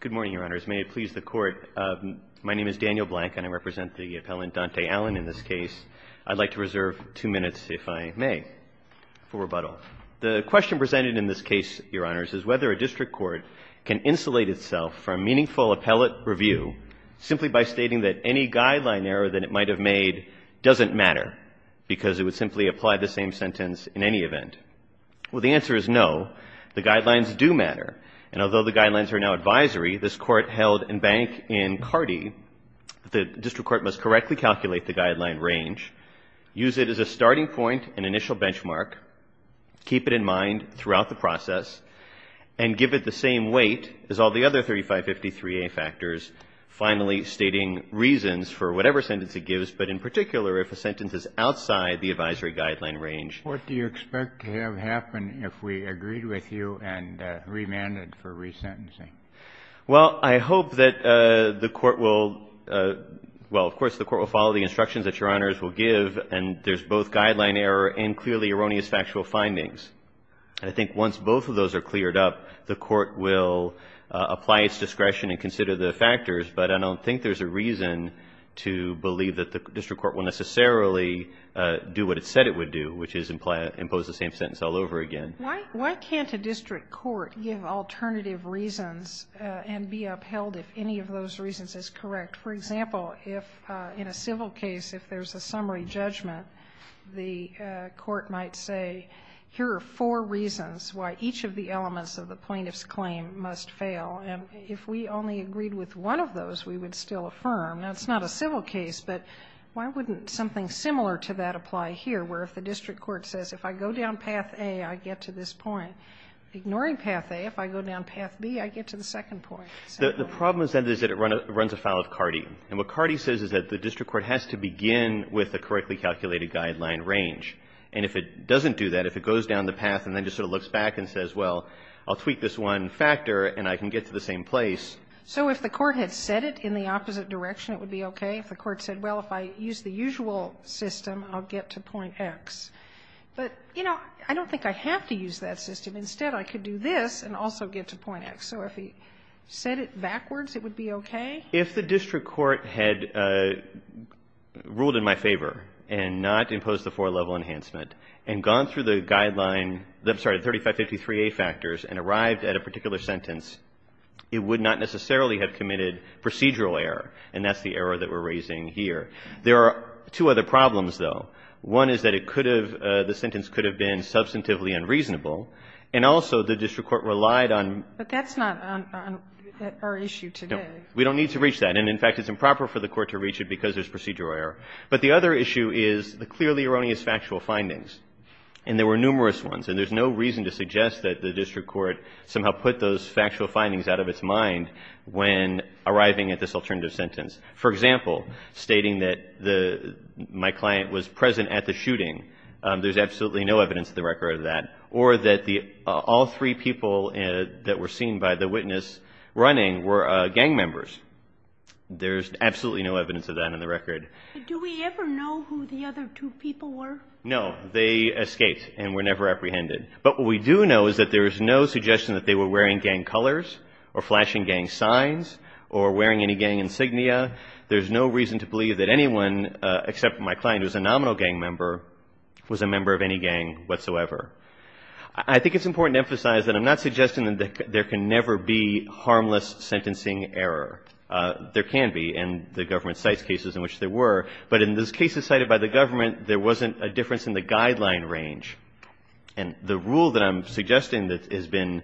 Good morning, Your Honors. May it please the Court, my name is Daniel Blank and I represent the appellant Dontae Allen in this case. I'd like to reserve two minutes, if I may, for rebuttal. The question presented in this case, Your Honors, is whether a district court can insulate itself from meaningful appellate review simply by stating that any guideline error that it might have made doesn't matter because it would simply apply the same sentence in any event. Well, the answer is no. The guidelines do matter. And although the guidelines are now advisory, this Court held in Bank v. Carty that the district court must correctly calculate the guideline range, use it as a starting point and initial benchmark, keep it in mind throughout the process, and give it the same weight as all the other 3553A factors, finally stating reasons for whatever sentence it gives, but in particular if a sentence is outside the advisory guideline range. What do you expect to have happen if we agreed with you and remanded for resentencing? Well, I hope that the Court will, well, of course the Court will follow the instructions that Your Honors will give and there's both guideline error and clearly erroneous factual findings. I think once both of those are cleared up, the Court will apply its discretion and consider the factors, but I don't think there's a reason to believe that the district court will necessarily do what it said it would do, which is impose the same sentence all over again. Why can't a district court give alternative reasons and be upheld if any of those reasons is correct? For example, if in a civil case, if there's a summary judgment, the court might say, here are four reasons why each of the elements of the plaintiff's claim must fail. If we only agreed with one of those, we would still affirm. Now, it's not a civil case, but why wouldn't something similar to that apply here, where if the district court says, if I go down path A, I get to this point? Ignoring path A, if I go down path B, I get to the second point? The problem is that it runs afoul of CARTI. And what CARTI says is that the district court has to begin with the correctly calculated guideline range. And if it doesn't do that, if it goes down the path and then just sort of looks back and says, well, I'll tweak this one factor and I can get to the same place. So if the court had said it in the opposite direction, it would be okay? If the court said, well, if I use the usual system, I'll get to point X. But, you know, I don't think I have to use that system. Instead, I could do this and also get to point X. So if he said it backwards, it would be okay? If the district court had ruled in my favor and not imposed the four-level enhancement and gone through the guideline 3553A factors and arrived at a particular sentence, it would not necessarily have committed procedural error. And that's the error that we're raising here. There are two other problems, though. One is that it could have, the sentence could have been substantively unreasonable. And also the district court relied on. But that's not on our issue today. No. We don't need to reach that. And, in fact, it's improper for the court to reach it because there's procedural error. But the other issue is the clearly erroneous factual findings. And there were numerous ones. And there's no reason to suggest that the district court somehow put those factual For example, stating that my client was present at the shooting. There's absolutely no evidence of the record of that. Or that all three people that were seen by the witness running were gang members. There's absolutely no evidence of that on the record. Do we ever know who the other two people were? No. They escaped and were never apprehended. But what we do know is that there is no suggestion that they were wearing gang colors or flashing gang signs or wearing any gang insignia. There's no reason to believe that anyone except my client, who's a nominal gang member, was a member of any gang whatsoever. I think it's important to emphasize that I'm not suggesting that there can never be harmless sentencing error. There can be in the government sites cases in which there were. But in those cases cited by the government, there wasn't a difference in the guideline range. And the rule that I'm suggesting that has been,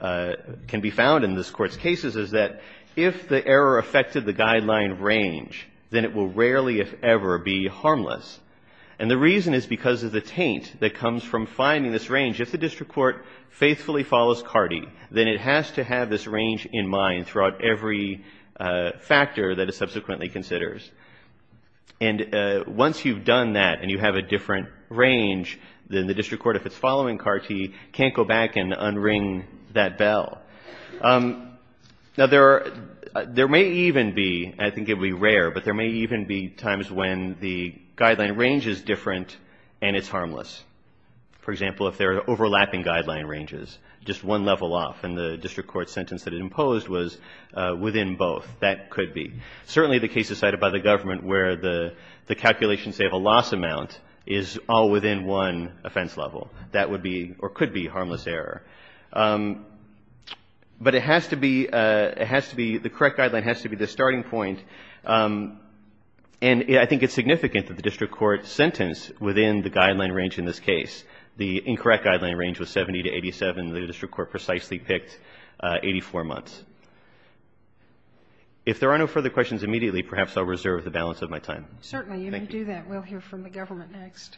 can be found in this Court's cases, is that if the error affected the guideline range, then it will rarely, if ever, be harmless. And the reason is because of the taint that comes from finding this range. If the district court faithfully follows CARTI, then it has to have this range in mind throughout every factor that it subsequently considers. And once you've done that and you have a different range, then the district court, if it's following CARTI, can't go back and unring that bell. Now, there are, there may even be, I think it would be rare, but there may even be times when the guideline range is different and it's harmless. For example, if there are overlapping guideline ranges, just one level off in the district court sentence that it imposed was within both, that could be. Certainly the cases cited by the government where the calculations say of a loss amount is all within one offense level. That would be, or could be, harmless error. But it has to be, it has to be, the correct guideline has to be the starting point. And I think it's significant that the district court sentenced within the guideline range in this case. The incorrect guideline range was 70 to 87. The district court precisely picked 84 months. If there are no further questions immediately, perhaps I'll reserve the balance of my time. Thank you. Certainly. If you do that, we'll hear from the government next.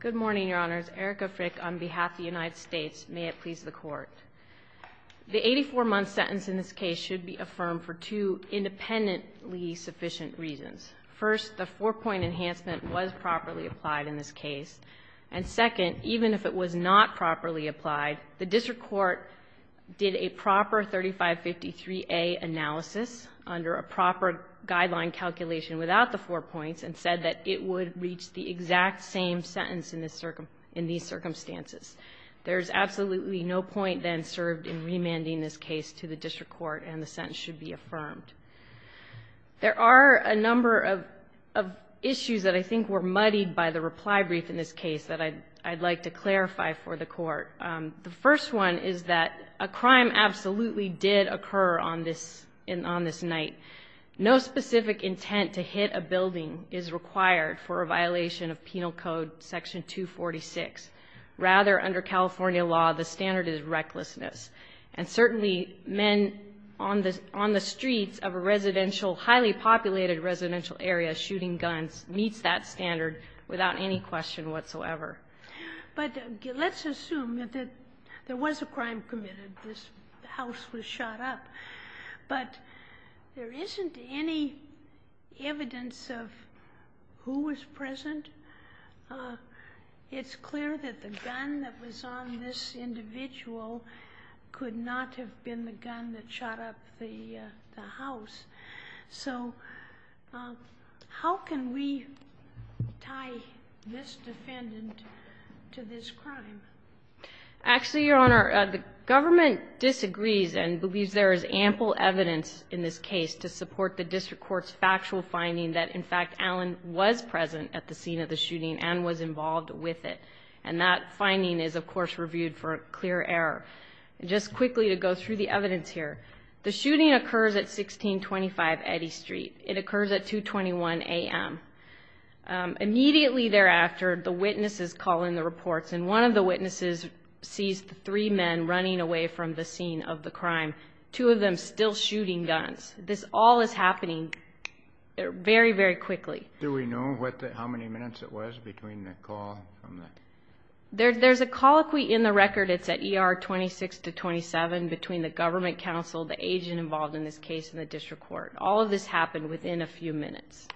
Good morning, Your Honors. Erica Frick on behalf of the United States. May it please the Court. The 84-month sentence in this case should be affirmed for two independently sufficient reasons. First, the four-point enhancement was properly applied in this case. And second, even if it was not properly applied, the district court did a proper 3553A analysis under a proper guideline calculation without the four points and said that it would reach the exact same sentence in this, in these circumstances. There is absolutely no point then served in remanding this case to the district court, and the sentence should be affirmed. There are a number of issues that I think were muddied by the reply brief in this case that I'd like to clarify for the Court. The first one is that a crime absolutely did occur on this night. No specific intent to hit a building is required for a violation of Penal Code Section 246. Rather, under California law, the standard is recklessness. And certainly men on the streets of a residential, highly populated residential area shooting guns meets that standard without any question whatsoever. But let's assume that there was a crime committed. This house was shot up. But there isn't any evidence of who was present. It's clear that the gun that was on this individual could not have been the gun that shot up the house. So how can we tie this defendant to this crime? Actually, Your Honor, the government disagrees and believes there is ample evidence in this case to support the district court's factual finding that, in fact, Allen was present at the scene of the shooting and was involved with it. And that finding is, of course, reviewed for clear error. Just quickly to go through the evidence here, the shooting occurs at 1625 Eddy Street. It occurs at 221 a.m. Immediately thereafter, the witnesses call in the reports, and one of the witnesses sees three men running away from the scene of the crime, two of them still shooting guns. This all is happening very, very quickly. Do we know how many minutes it was between the call? There's a colloquy in the record. It's at ER 26 to 27 between the government counsel, the agent involved in this case, and the district court. All of this happened within a few minutes.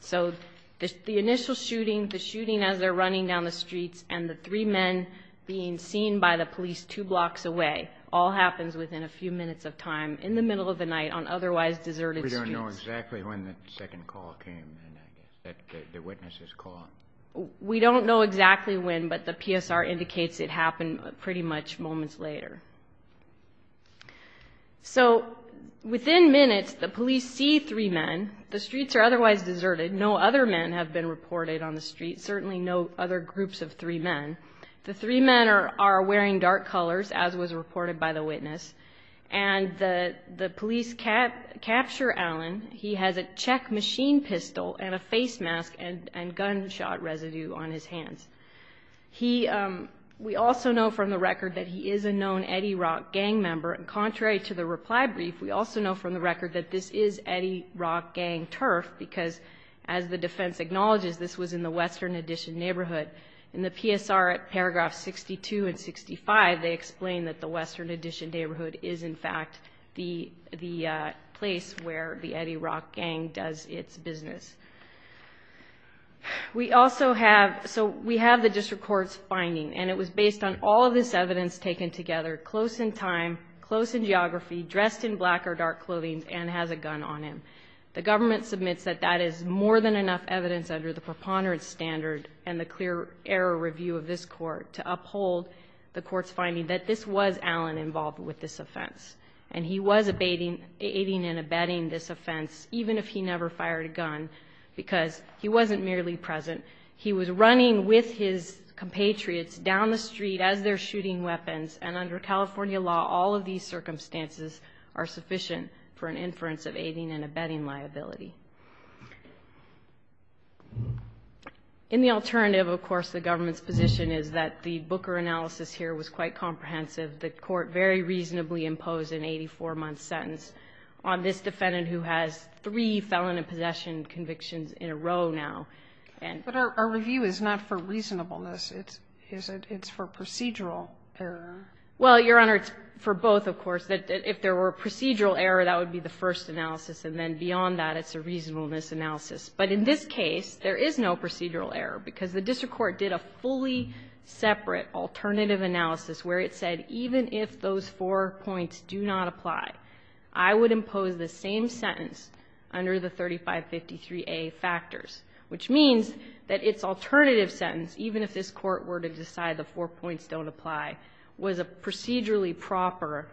So the initial shooting, the shooting as they're running down the streets, and the three men being seen by the police two blocks away all happens within a few minutes of the call. We don't know exactly when the second call came. The witnesses call. We don't know exactly when, but the PSR indicates it happened pretty much moments later. So within minutes, the police see three men. The streets are otherwise deserted. No other men have been reported on the street, certainly no other groups of three men. The three men are wearing dark colors, as was reported by the witness, and the police capture Alan. He has a Czech machine pistol and a face mask and gunshot residue on his hands. We also know from the record that he is a known Eddie Rock gang member. Contrary to the reply brief, we also know from the record that this is Eddie Rock gang turf because, as the defense acknowledges, this was in the Western Addition neighborhood. In the PSR at paragraph 62 and 65, they explain that the Western Addition neighborhood is, in fact, the place where the Eddie Rock gang does its business. We also have the district court's finding, and it was based on all of this evidence taken together, close in time, close in geography, dressed in black or dark clothing, and has a gun on him. The government submits that that is more than enough evidence under the preponderance standard and the clear error review of this court to uphold the And he was aiding and abetting this offense, even if he never fired a gun, because he wasn't merely present. He was running with his compatriots down the street as they're shooting weapons, and under California law, all of these circumstances are sufficient for an inference of aiding and abetting liability. In the alternative, of course, the government's position is that the Booker analysis here was quite comprehensive. The court very reasonably imposed an 84-month sentence on this defendant, who has three felon and possession convictions in a row now. And so the government's position is that the Booker analysis here was quite comprehensive. But our review is not for reasonableness. It's for procedural error. Well, Your Honor, it's for both, of course. If there were procedural error, that would be the first analysis, and then beyond that, it's a reasonableness analysis. But in this case, there is no procedural error, because the district court did a fully separate alternative analysis where it said, even if those four points do not apply, I would impose the same sentence under the 3553A factors, which means that its alternative sentence, even if this Court were to decide the four points don't apply, was a procedurally proper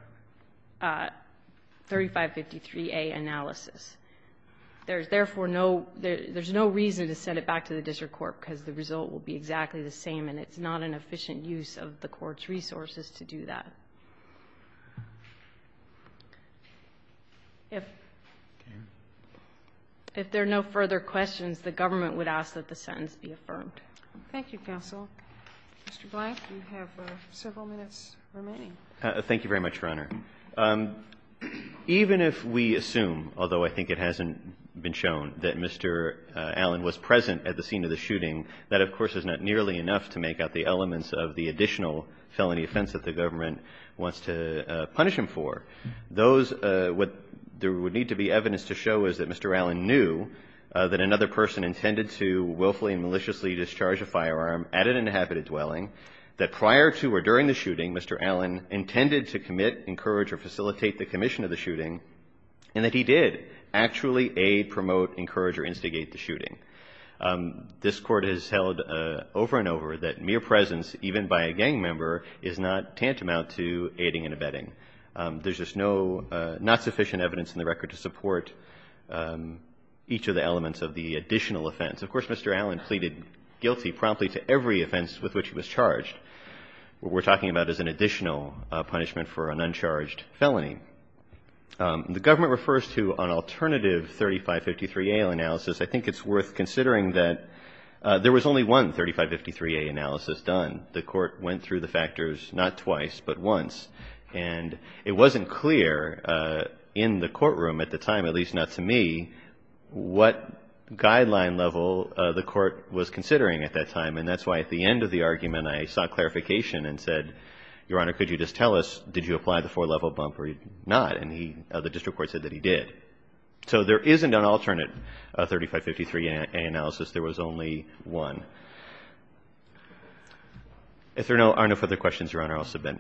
3553A analysis. There's therefore no reason to send it back to the district court, because the result will be exactly the same, and it's not an efficient use of the Court's resources to do that. If there are no further questions, the government would ask that the sentence be affirmed. Thank you, counsel. Mr. Black, you have several minutes remaining. Thank you very much, Your Honor. Even if we assume, although I think it hasn't been shown, that Mr. Allen was present at the scene of the shooting, that of course is not nearly enough to make up the elements of the additional felony offense that the government wants to punish him for. Those, what there would need to be evidence to show is that Mr. Allen knew that another person intended to willfully and maliciously discharge a firearm at an inhabited dwelling, that prior to or during the shooting, Mr. Allen intended to commit, encourage, or facilitate the commission of the shooting, and that he did actually aid, promote, encourage, or instigate the shooting. This Court has held over and over that mere presence, even by a gang member, is not tantamount to aiding and abetting. There's just not sufficient evidence in the record to support each of the elements of the additional offense. Of course, Mr. Allen pleaded guilty promptly to every offense with which he was charged. What we're talking about is an additional punishment for an uncharged felony. The government refers to an alternative 3553A analysis. I think it's worth considering that there was only one 3553A analysis done. The Court went through the factors not twice but once, and it wasn't clear in the courtroom at the time, at least not to me, what guideline level the Court was considering at that time, and that's why at the end of the argument I sought clarification and said, Your Honor, could you just tell us, did you apply the four-level bump or not? And the district court said that he did. So there isn't an alternate 3553A analysis. There was only one. If there are no further questions, Your Honor, I'll submit.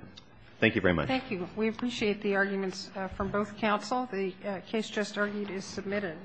Thank you very much. Thank you. We appreciate the arguments from both counsel. The case just argued is submitted.